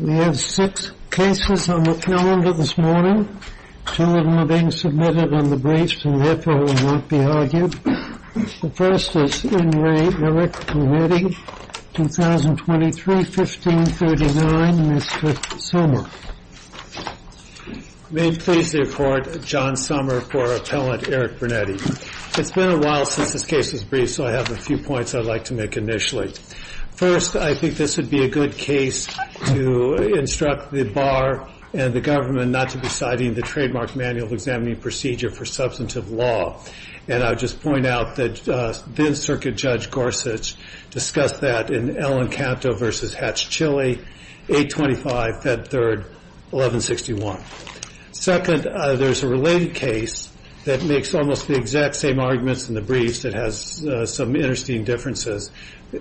We have six cases on the calendar this morning. Two of them are being submitted on the briefs and therefore will not be argued. The first is in Re, Eric Brunetti, 2023-1539, Mr. Sommer. May it please the Court, John Sommer for Appellant Eric Brunetti. It's been a while since this case was briefed so I have a few points I'd like to make initially. First, I think this would be a good case to instruct the Bar and the government not to be citing the Trademark Manual of Examining Procedure for Substantive Law. And I'll just point out that then-Circuit Judge Gorsuch discussed that in Ellen Canto v. Hatch-Chilley, 825 Fed 3, 1161. Second, there's a related case that makes almost the exact same arguments in the briefs that has some interesting differences.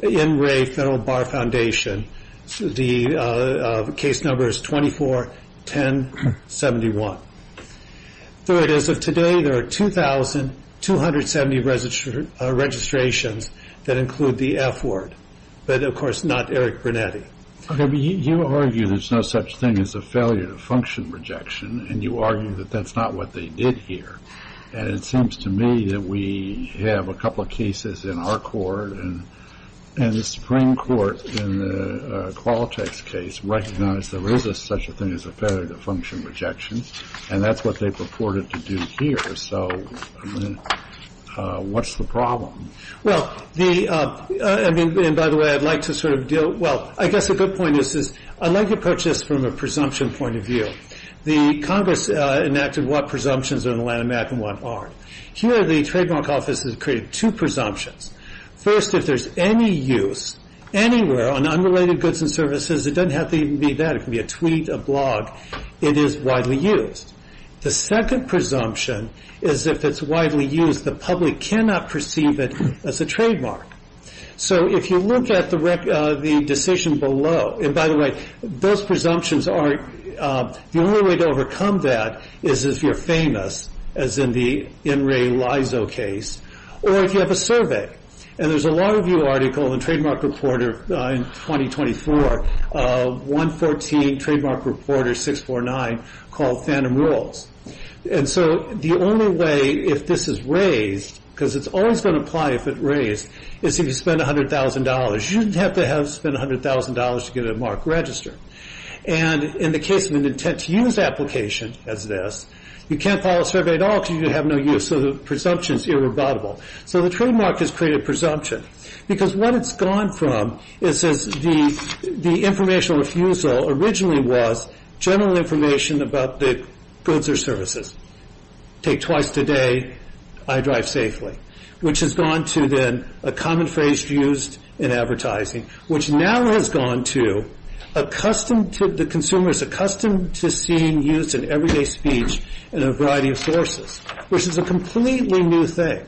In Re, Federal Bar Foundation, the case number is 24-1071. Third, as of today, there are 2,270 registrations that include the F word, but of course not Eric Brunetti. You argue there's no such thing as a failure to function rejection and you argue that that's not what they did here. And it seems to me that we have a couple of cases in our court and the Supreme Court in the Qualtech's case recognized there is such a thing as a failure to function rejection and that's what they purported to do here. So what's the problem? Well, the, I mean, and by the way, I'd like to sort of deal, well, I guess a good point is, I'd like to approach this from a presumption point of view. The Congress enacted what presumptions are in the Land of America and what aren't. Here, the trademark office has created two presumptions. First, if there's any use anywhere on unrelated goods and services, it doesn't have to even be that. It can be a tweet, a blog, it is widely used. The second presumption is if it's widely used, the public cannot perceive it as a trademark. So if you look at the decision below, and by the way, those presumptions are, the only way to overcome that is if you're famous, as in the In Re Lizo case, or if you have a survey. And there's a Law Review article in Trademark Reporter in 2024, 114 Trademark Reporter 649, called Phantom Rules. And so the only way, if this is raised, because it's always going to apply if it's raised, is if you spend $100,000. You don't have to spend $100,000 to get a marked register. And in the case of an intent to use application as this, you can't file a survey at all because you have no use. So the presumption is irrevocable. So the trademark has created presumption because what it's gone from is the informational refusal originally was general information about the goods or services, take twice today, I drive safely, which has gone to then a common phrase used in advertising, which now has gone to the consumer is accustomed to seeing used in everyday speech in a variety of sources, which is a completely new thing.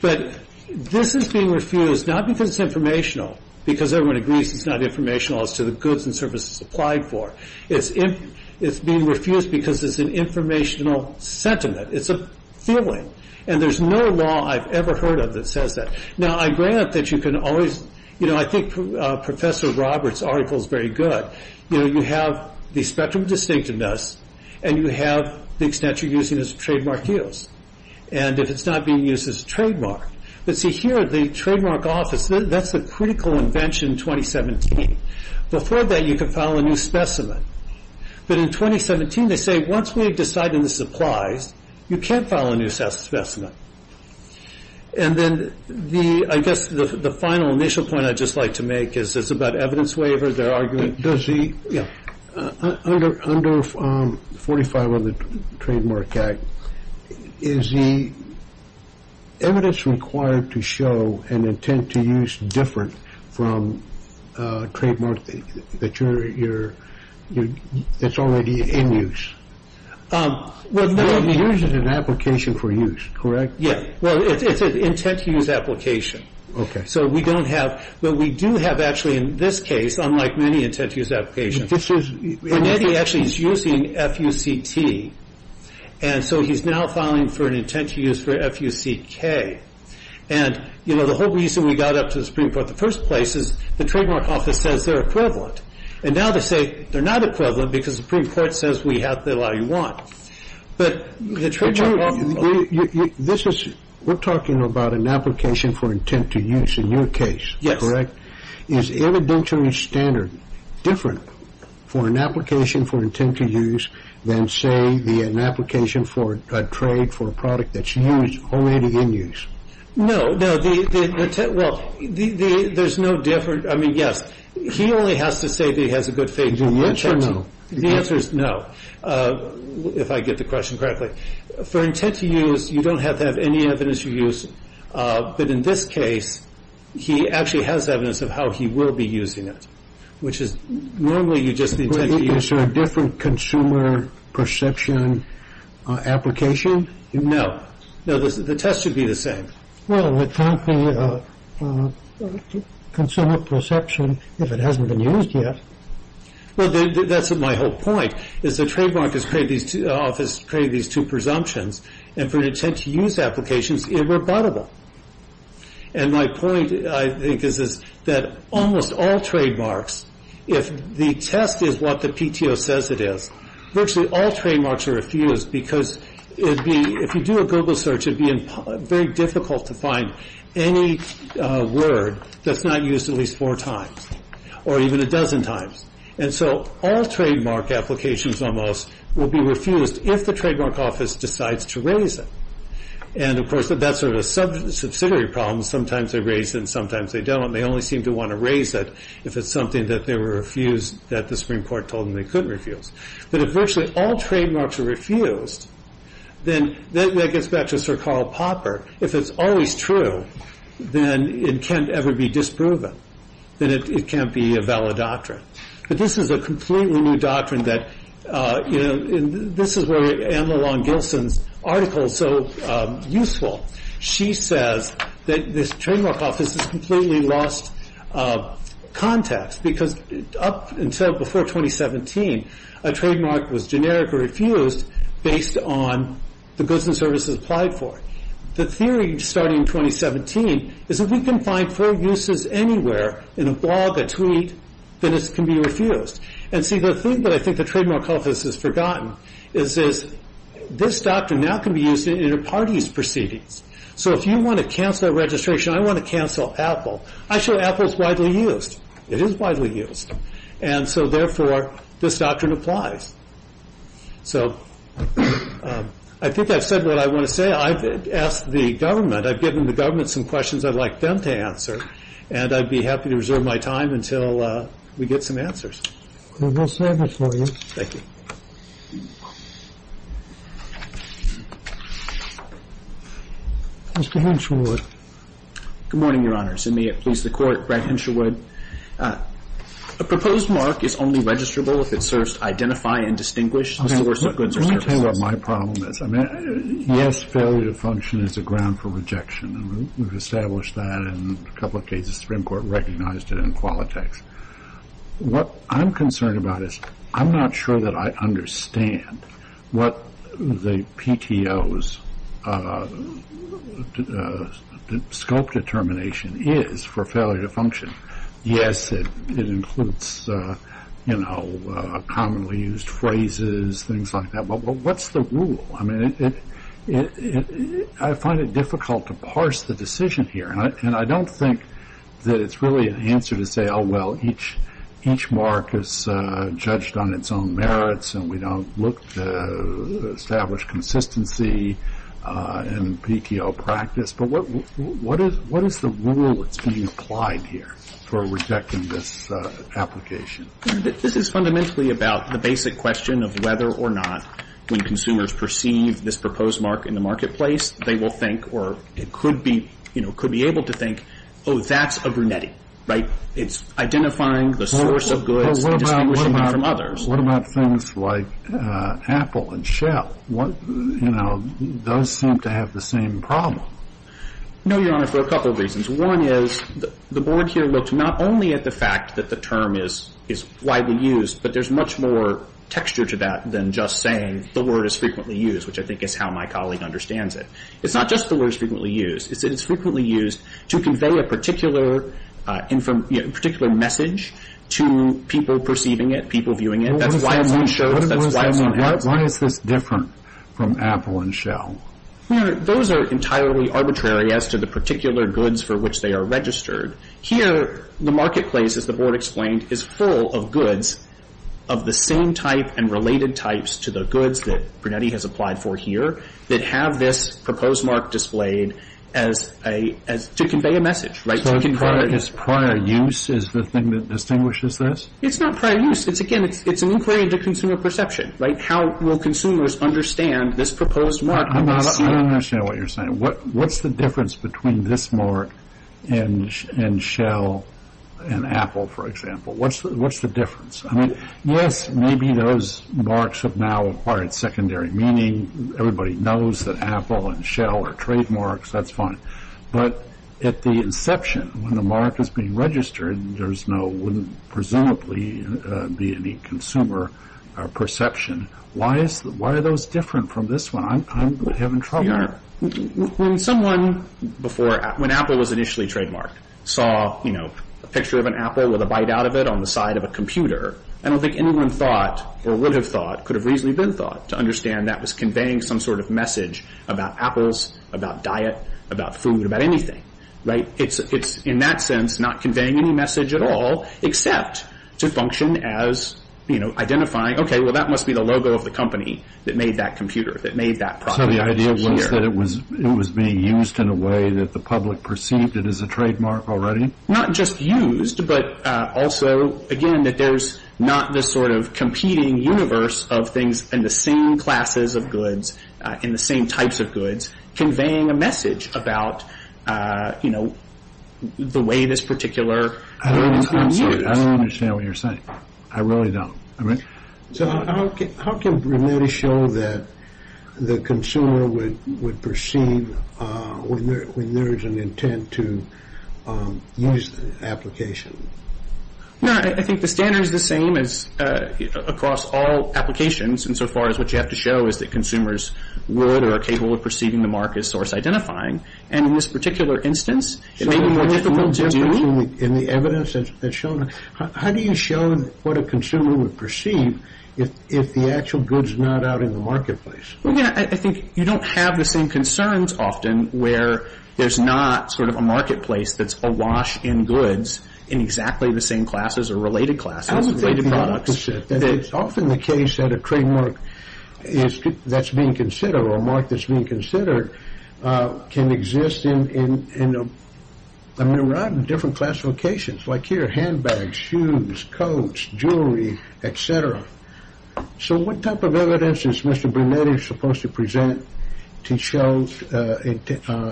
But this is being refused not because it's informational, because everyone agrees it's not informational as to the goods and services applied for. It's being refused because it's an informational sentiment. It's a feeling. And there's no law I've ever heard of that says that. Now, I grant that you can always, you know, I think Professor Roberts' article is very good. You know, you have the spectrum of distinctiveness, and you have the extent you're using as trademark use. And if it's not being used as a trademark, but see here, the trademark office, that's a critical invention in 2017. Before that, you could file a new specimen. But in 2017, they say once we've decided this applies, you can't file a new specimen. And then the, I guess the final initial point I'd just like to make is it's about evidence waiver, their argument. Does the, under 45 of the Trademark Act, is the evidence required to show an intent to use different from a trademark that you're, that's already in use? Well, no. It uses an application for use, correct? Yeah, well, it's an intent to use application. Okay. So we don't have, but we do have actually in this case, unlike many intent to use applications. This is. Renetti actually is using F-U-C-T. And so he's now filing for an intent to use for F-U-C-K. And, you know, the whole reason we got up to the Supreme Court in the first place is the trademark office says they're equivalent. And now they say they're not equivalent because the Supreme Court says we have to allow you one. But the trademark office. This is, we're talking about an application for intent to use in your case, correct? Is evidentiary standard different for an application for intent to use than, say, an application for a trade for a product that's used, already in use? No, no. The intent, well, there's no difference. I mean, yes. He only has to say that he has a good faith. Is it yes or no? The answer is no, if I get the question correctly. For intent to use, you don't have to have any evidence for use. But in this case, he actually has evidence of how he will be using it, which is normally you just intend to use. Is there a different consumer perception application? No. No, the test should be the same. Well, it can't be a consumer perception if it hasn't been used yet. Well, that's my whole point, is the trademark office created these two presumptions. And for an intent to use application, it's irrebuttable. And my point, I think, is that almost all trademarks, if the test is what the PTO says it is, virtually all trademarks are refused because if you do a Google search, it would be very difficult to find any word that's not used at least four times or even a dozen times. And so all trademark applications almost will be refused if the trademark office decides to raise it. And, of course, that's sort of a subsidiary problem. Sometimes they raise it and sometimes they don't. They only seem to want to raise it if it's something that they were refused, that the Supreme Court told them they couldn't refuse. But if virtually all trademarks are refused, then that gets back to Sir Karl Popper. If it's always true, then it can't ever be disproven. Then it can't be a valid doctrine. But this is a completely new doctrine that, you know, this is where Emma Long-Gilson's article is so useful. She says that this trademark office has completely lost context because up until before 2017, a trademark was generic or refused based on the goods and services applied for it. The theory starting in 2017 is if we can find four uses anywhere in a blog, a tweet, then it can be refused. And see, the thing that I think the trademark office has forgotten is this doctrine now can be used in a party's proceedings. So if you want to cancel a registration, I want to cancel Apple. Actually, Apple is widely used. It is widely used. And so, therefore, this doctrine applies. So I think I've said what I want to say. I've asked the government. I've given the government some questions I'd like them to answer. And I'd be happy to reserve my time until we get some answers. We will serve it for you. Thank you. Mr. Hensherwood. Good morning, Your Honors, and may it please the Court, Brad Hensherwood. A proposed mark is only registrable if it serves to identify and distinguish the source of goods or services. Let me tell you what my problem is. Yes, failure to function is a ground for rejection. And we've established that in a couple of cases. The Supreme Court recognized it in Qualitex. What I'm concerned about is I'm not sure that I understand what the PTO's scope determination is for failure to function. Yes, it includes, you know, commonly used phrases, things like that. But what's the rule? I mean, I find it difficult to parse the decision here. And I don't think that it's really an answer to say, oh, well, each mark is judged on its own merits and we don't look to establish consistency in PTO practice. But what is the rule that's being applied here for rejecting this application? This is fundamentally about the basic question of whether or not when consumers perceive this proposed mark in the marketplace, they will think or could be able to think, oh, that's a brunetti. Right? It's identifying the source of goods and distinguishing them from others. What about things like Apple and Shell? You know, those seem to have the same problem. No, Your Honor, for a couple of reasons. One is the board here looks not only at the fact that the term is widely used, but there's much more texture to that than just saying the word is frequently used, which I think is how my colleague understands it. It's not just the word is frequently used. It's that it's frequently used to convey a particular message to people perceiving it, people viewing it. That's why it's on shelves. Why is this different from Apple and Shell? Your Honor, those are entirely arbitrary as to the particular goods for which they are registered. Here, the marketplace, as the board explained, is full of goods of the same type and related types to the goods that brunetti has applied for here that have this proposed mark displayed to convey a message. So is prior use the thing that distinguishes this? It's not prior use. Again, it's an inquiry into consumer perception. How will consumers understand this proposed mark? I don't understand what you're saying. What's the difference between this mark and Shell and Apple, for example? What's the difference? Yes, maybe those marks have now acquired secondary meaning. Everybody knows that Apple and Shell are trademarks. That's fine. But at the inception, when the mark is being registered, there presumably wouldn't be any consumer perception. Why are those different from this one? I'm having trouble here. Your Honor, when someone before, when Apple was initially trademarked, saw a picture of an apple with a bite out of it on the side of a computer, I don't think anyone thought or would have thought, could have reasonably been thought, to understand that was conveying some sort of message about apples, about diet, about food, about anything. It's, in that sense, not conveying any message at all, except to function as identifying, okay, well, that must be the logo of the company that made that computer, that made that product. So the idea was that it was being used in a way that the public perceived it as a trademark already? Not just used, but also, again, that there's not this sort of competing universe of things in the same classes of goods, in the same types of goods, conveying a message about, you know, the way this particular thing is being used. I don't understand what you're saying. I really don't. So how can we really show that the consumer would perceive when there is an intent to use the application? No, I think the standard is the same as across all applications, insofar as what you have to show is that consumers would or are capable of perceiving the mark as source identifying. And in this particular instance, it may be more difficult to do. In the evidence that's shown, how do you show what a consumer would perceive if the actual goods are not out in the marketplace? Well, again, I think you don't have the same concerns often where there's not sort of a marketplace that's awash in goods in exactly the same classes or related classes, related products. I don't think you have to say that. It's often the case that a trademark that's being considered or a mark that's being considered can exist in a myriad of different classifications, like here, handbags, shoes, coats, jewelry, et cetera. So what type of evidence is Mr. Brunetti supposed to present to show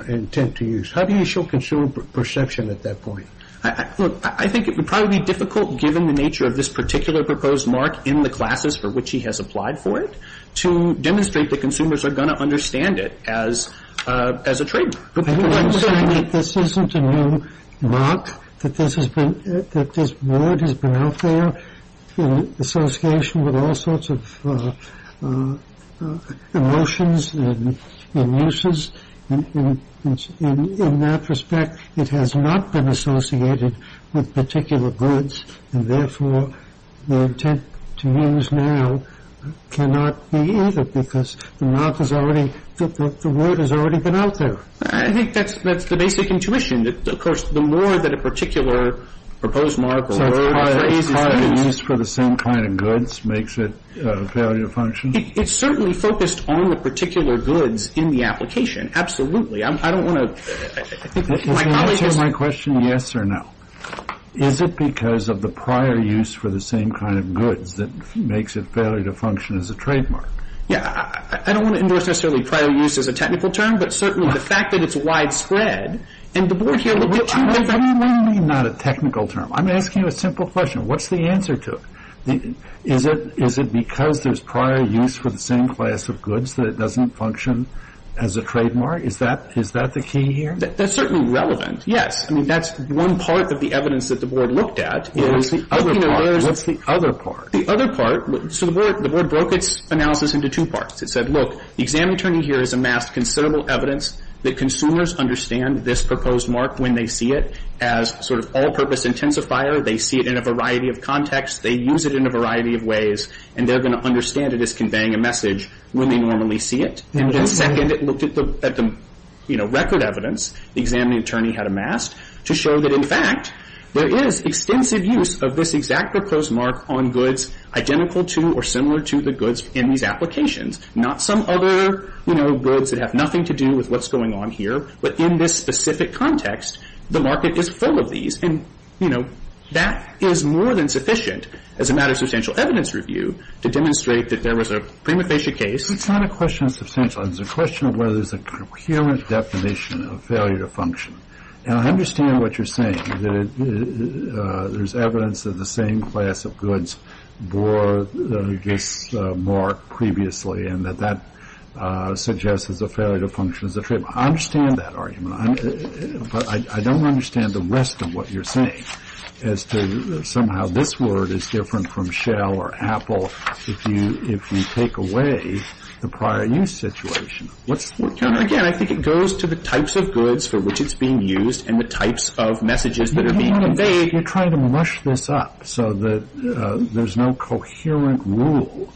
intent to use? How do you show consumer perception at that point? Look, I think it would probably be difficult, given the nature of this particular proposed mark in the classes for which he has applied for it, to demonstrate that consumers are going to understand it as a trademark. I'm saying that this isn't a new mark, that this word has been out there in association with all sorts of emotions and uses. In that respect, it has not been associated with particular goods, and therefore the intent to use now cannot be either that the word has already been out there. I think that's the basic intuition. Of course, the more that a particular proposed mark or word or phrase is used... So prior use for the same kind of goods makes it a failure to function? It's certainly focused on the particular goods in the application. Absolutely. I don't want to... Is the answer to my question yes or no? Is it because of the prior use for the same kind of goods that makes it a failure to function as a trademark? I don't want to endorse necessarily prior use as a technical term, but certainly the fact that it's widespread... What do you mean not a technical term? I'm asking you a simple question. What's the answer to it? Is it because there's prior use for the same class of goods that it doesn't function as a trademark? Is that the key here? That's certainly relevant, yes. That's one part of the evidence that the Board looked at. What's the other part? The other part... So the Board broke its analysis into two parts. It said, look, the examining attorney here has amassed considerable evidence that consumers understand this proposed mark when they see it as sort of all-purpose intensifier. They see it in a variety of contexts. They use it in a variety of ways, and they're going to understand it as conveying a message when they normally see it. And then second, it looked at the record evidence the examining attorney had amassed to show that, in fact, there is extensive use of this exact proposed mark on goods identical to or similar to the goods in these applications, not some other, you know, goods that have nothing to do with what's going on here, but in this specific context, the market is full of these. And, you know, that is more than sufficient, as a matter of substantial evidence review, to demonstrate that there was a prima facie case... It's not a question of substantial. It's a question of whether there's a coherent definition of failure to function. And I understand what you're saying, that there's evidence that the same class of goods bore this mark previously and that that suggests there's a failure to function as a treatment. I understand that argument, but I don't understand the rest of what you're saying as to somehow this word is different from shell or apple if you take away the prior use situation. Again, I think it goes to the types of goods for which it's being used and the types of messages that are being conveyed. You're trying to mush this up so that there's no coherent rule.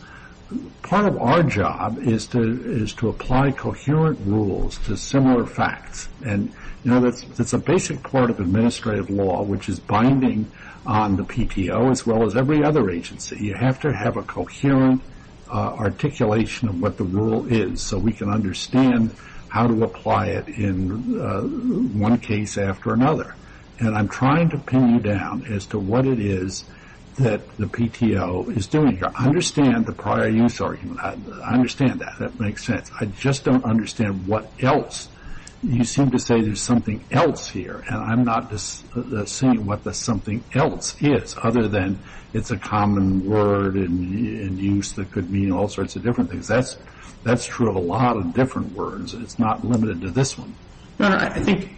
Part of our job is to apply coherent rules to similar facts. And, you know, that's a basic part of administrative law, which is binding on the PTO as well as every other agency. You have to have a coherent articulation of what the rule is so we can understand how to apply it in one case after another. And I'm trying to pin you down as to what it is that the PTO is doing here. I understand the prior use argument. I understand that. That makes sense. I just don't understand what else. You seem to say there's something else here, and I'm not seeing what the something else is other than it's a common word in use that could mean all sorts of different things. That's true of a lot of different words, and it's not limited to this one. No, no, I think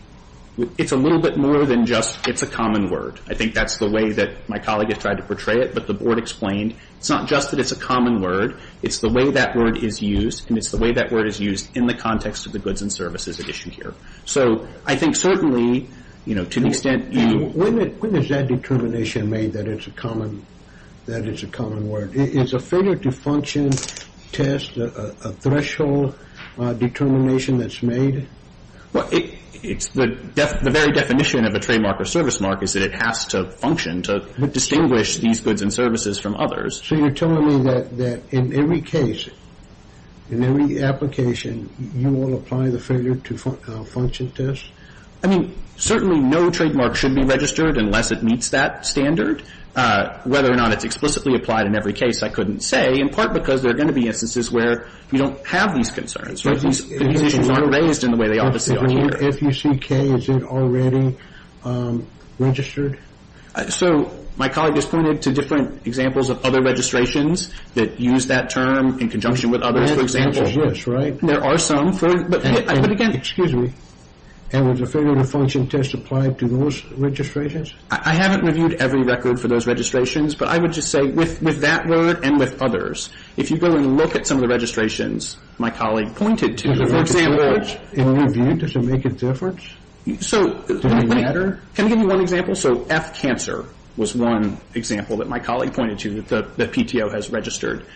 it's a little bit more than just it's a common word. I think that's the way that my colleague has tried to portray it, but the Board explained it's not just that it's a common word. It's the way that word is used, and it's the way that word is used in the context of the goods and services at issue here. So I think certainly, you know, to the extent you need to. When is that determination made that it's a common word? Is a failure to function test a threshold determination that's made? Well, it's the very definition of a trademark or service mark is that it has to function to distinguish these goods and services from others. So you're telling me that in every case, in every application, you will apply the failure to function test? I mean, certainly no trademark should be registered unless it meets that standard. Whether or not it's explicitly applied in every case, I couldn't say, in part because there are going to be instances where you don't have these concerns. These issues aren't raised in the way they obviously are here. If you see K, is it already registered? So my colleague has pointed to different examples of other registrations that use that term in conjunction with others, for example. There are some, but again. Excuse me. And was a failure to function test applied to those registrations? I haven't reviewed every record for those registrations, but I would just say with that word and with others, if you go and look at some of the registrations my colleague pointed to, for example. In review, does it make a difference? Does it matter? Can I give you one example? So F, cancer, was one example that my colleague pointed to that the PTO has registered.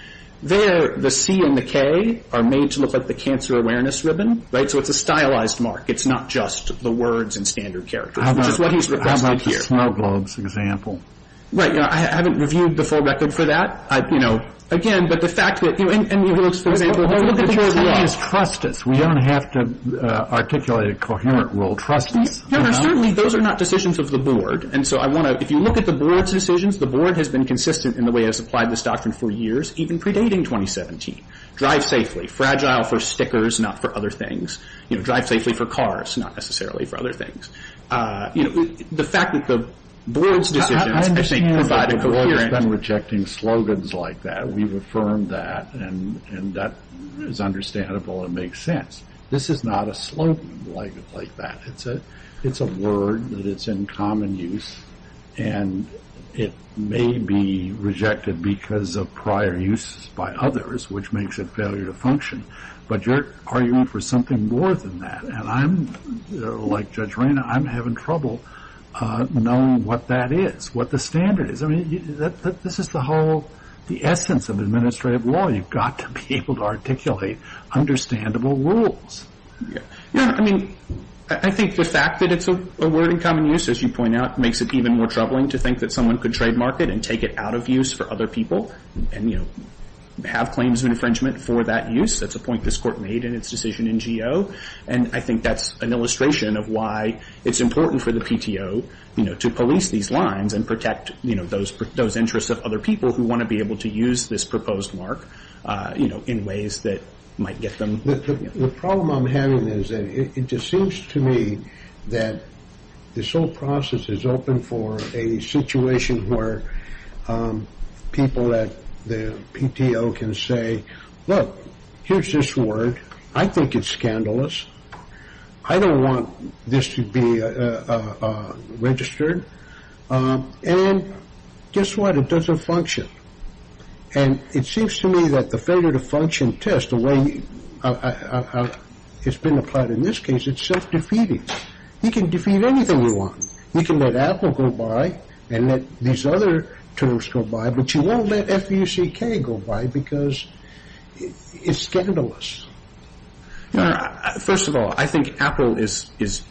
There, the C and the K are made to look like the cancer awareness ribbon, right? So it's a stylized mark. It's not just the words and standard characters, which is what he's requested here. The snow globes example. Right. I haven't reviewed the full record for that. Again, but the fact that, for example. Trust us. We don't have to articulate a coherent rule. Trust us. Certainly, those are not decisions of the board. And so I want to, if you look at the board's decisions, the board has been consistent in the way it has applied this doctrine for years, even predating 2017. Drive safely. Fragile for stickers, not for other things. Drive safely for cars, not necessarily for other things. The fact that the board's decisions, I think, provide a coherent. I understand that the board has been rejecting slogans like that. We've affirmed that, and that is understandable and makes sense. This is not a slogan like that. It's a word that is in common use, and it may be rejected because of prior use by others, which makes it failure to function. But you're arguing for something more than that. And I'm, like Judge Reyna, I'm having trouble knowing what that is, what the standard is. This is the whole essence of administrative law. You've got to be able to articulate understandable rules. I think the fact that it's a word in common use, as you point out, makes it even more troubling to think that someone could trademark it and take it out of use for other people and have claims of infringement for that use. That's a point this Court made in its decision in Geo. And I think that's an illustration of why it's important for the PTO to police these lines and protect those interests of other people who want to be able to use this proposed mark in ways that might get them. The problem I'm having is that it just seems to me that this whole process is open for a situation where people at the PTO can say, look, here's this word. I think it's scandalous. I don't want this to be registered. And guess what? It doesn't function. And it seems to me that the failure to function test, the way it's been applied in this case, it's self-defeating. You can defeat anything you want. You can let Apple go by and let these other terms go by, but you won't let F-U-C-K go by because it's scandalous. First of all, I think Apple is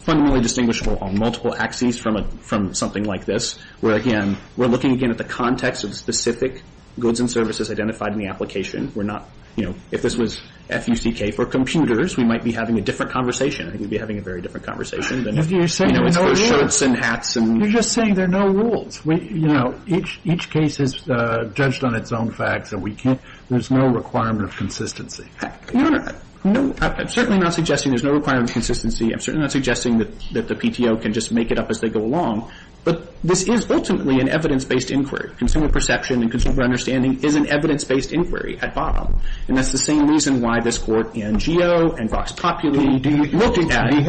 fundamentally distinguishable on multiple axes from something like this, where, again, we're looking again at the context of specific goods and services identified in the application. We're not, you know, if this was F-U-C-K for computers, we might be having a different conversation. I think we'd be having a very different conversation than if it was for shirts and hats. You're just saying there are no rules. You know, each case is judged on its own facts, and there's no requirement of consistency. Your Honor, I'm certainly not suggesting there's no requirement of consistency. I'm certainly not suggesting that the PTO can just make it up as they go along. But this is ultimately an evidence-based inquiry. Consumer perception and consumer understanding is an evidence-based inquiry at bottom. And that's the same reason why this Court in Geo and Vox Populi. Do we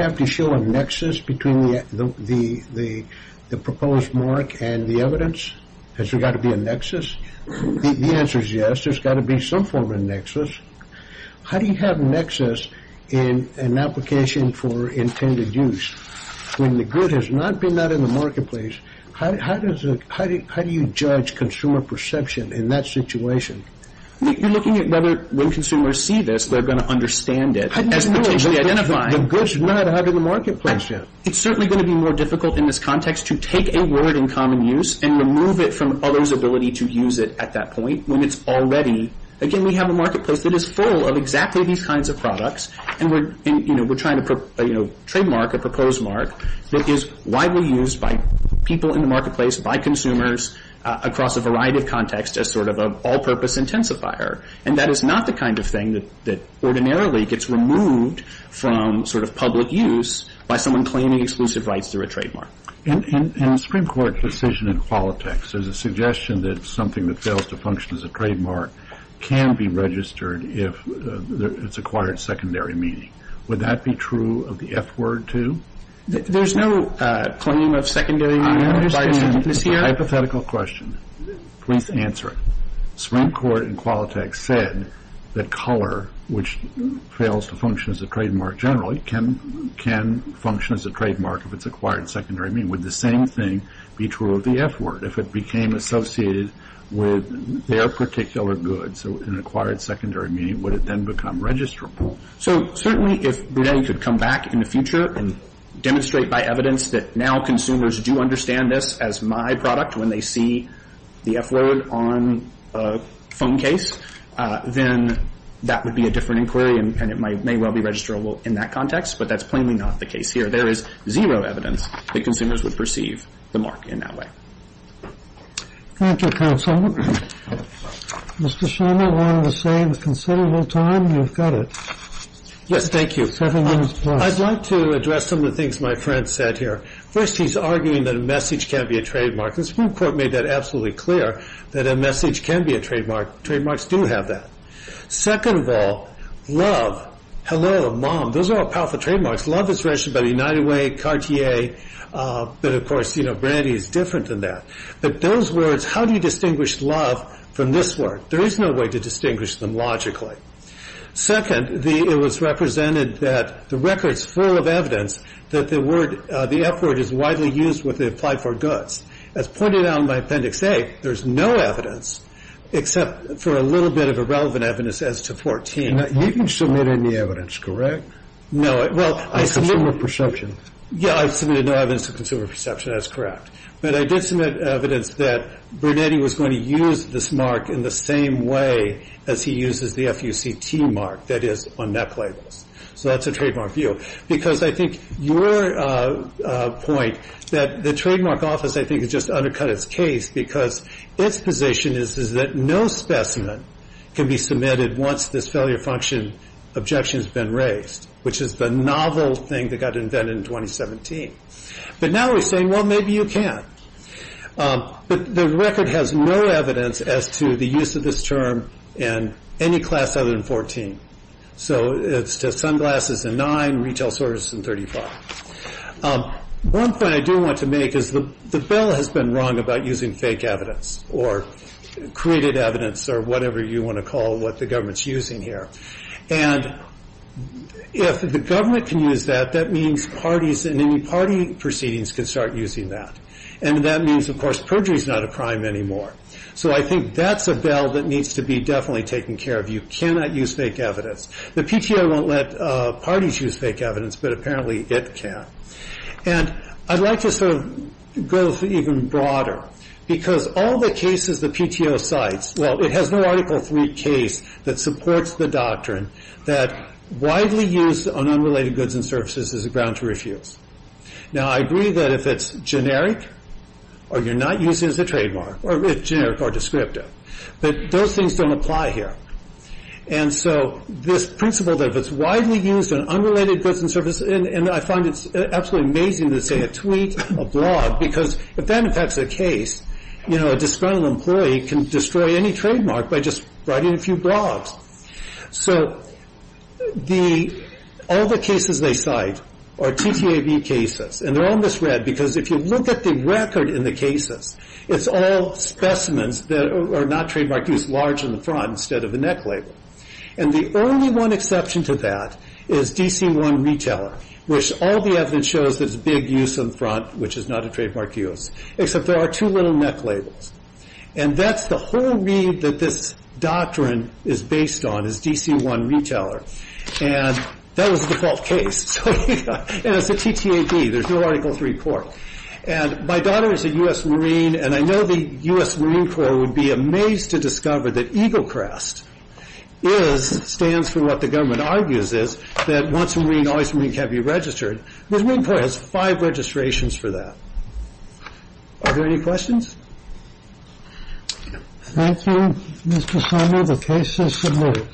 have to show a nexus between the proposed mark and the evidence? Has there got to be a nexus? The answer is yes. There's got to be some form of nexus. How do you have a nexus in an application for intended use when the good has not been out in the marketplace? How do you judge consumer perception in that situation? You're looking at whether when consumers see this, they're going to understand it. As potentially identified. The good's not out in the marketplace yet. It's certainly going to be more difficult in this context to take a word in common use and remove it from others' ability to use it at that point when it's already. Again, we have a marketplace that is full of exactly these kinds of products, and we're trying to put a trademark, a proposed mark, that is widely used by people in the marketplace, by consumers, across a variety of contexts as sort of an all-purpose intensifier. And that is not the kind of thing that ordinarily gets removed from sort of public use by someone claiming exclusive rights through a trademark. And Supreme Court decision in Qualitex, there's a suggestion that something that fails to function as a trademark can be registered if it's acquired secondary meaning. Would that be true of the F word, too? There's no claim of secondary meaning. Hypothetical question. Please answer it. Supreme Court in Qualitex said that color, which fails to function as a trademark generally, can function as a trademark if it's acquired secondary meaning. Would the same thing be true of the F word if it became associated with their particular good? So an acquired secondary meaning, would it then become registrable? So certainly if Brunetti could come back in the future and demonstrate by evidence that now consumers do understand this as my product when they see the F word on a phone case, then that would be a different inquiry and it may well be registrable in that context. But that's plainly not the case here. There is zero evidence that consumers would perceive the mark in that way. Thank you, counsel. Mr. Shimer, we're on the same considerable time. You've got it. Yes, thank you. Seven minutes plus. I'd like to address some of the things my friend said here. First, he's arguing that a message can't be a trademark. The Supreme Court made that absolutely clear, that a message can be a trademark. Trademarks do have that. Second of all, love, hello, mom, those are all powerful trademarks. Love is registered by the United Way, Cartier, but of course, you know, Brunetti is different than that. But those words, how do you distinguish love from this word? There is no way to distinguish them logically. Second, it was represented that the record's full of evidence that the F word is widely used with the applied for goods. As pointed out in my Appendix A, there's no evidence, except for a little bit of irrelevant evidence as to 14. You didn't submit any evidence, correct? No. Consumer perception. Yeah, I submitted no evidence of consumer perception. That's correct. But I did submit evidence that Brunetti was going to use this mark in the same way as he uses the F-U-C-T mark that is on neck labels. So that's a trademark view. Because I think your point that the trademark office, I think, has just undercut its case because its position is that no specimen can be submitted once this failure function objection has been raised, which is the novel thing that got invented in 2017. But now we're saying, well, maybe you can. But the record has no evidence as to the use of this term in any class other than 14. So it's just sunglasses and nine, retail services and 35. One point I do want to make is the bill has been wrong about using fake evidence or created evidence or whatever you want to call what the government's using here. And if the government can use that, that means parties and any party proceedings can start using that. And that means, of course, perjury is not a crime anymore. So I think that's a bill that needs to be definitely taken care of. You cannot use fake evidence. The PTO won't let parties use fake evidence, but apparently it can. And I'd like to sort of go even broader because all the cases the PTO cites, well, it has no Article III case that supports the doctrine that widely used on unrelated goods and services is a ground to refuse. Now, I agree that if it's generic or you're not using it as a trademark or generic or descriptive, but those things don't apply here. And so this principle that if it's widely used on unrelated goods and services, and I find it absolutely amazing to say a tweet, a blog, because if that affects a case, you know, a disgruntled employee can destroy any trademark by just writing a few blogs. So all the cases they cite are TTAB cases, and they're all misread because if you look at the record in the cases, it's all specimens that are not trademark use, large in the front instead of the neck label. And the only one exception to that is DC-1 Retailer, which all the evidence shows that it's big use in the front, which is not a trademark use, except there are two little neck labels. And that's the whole read that this doctrine is based on is DC-1 Retailer. And that was the default case. And it's a TTAB. There's no Article III court. And my daughter is a U.S. Marine, and I know the U.S. Marine Corps would be amazed to discover that EGLCREST stands for what the government argues is that once a Marine, always a Marine can't be registered. The Marine Corps has five registrations for that. Are there any questions? Thank you, Mr. Sumner. The case is submitted.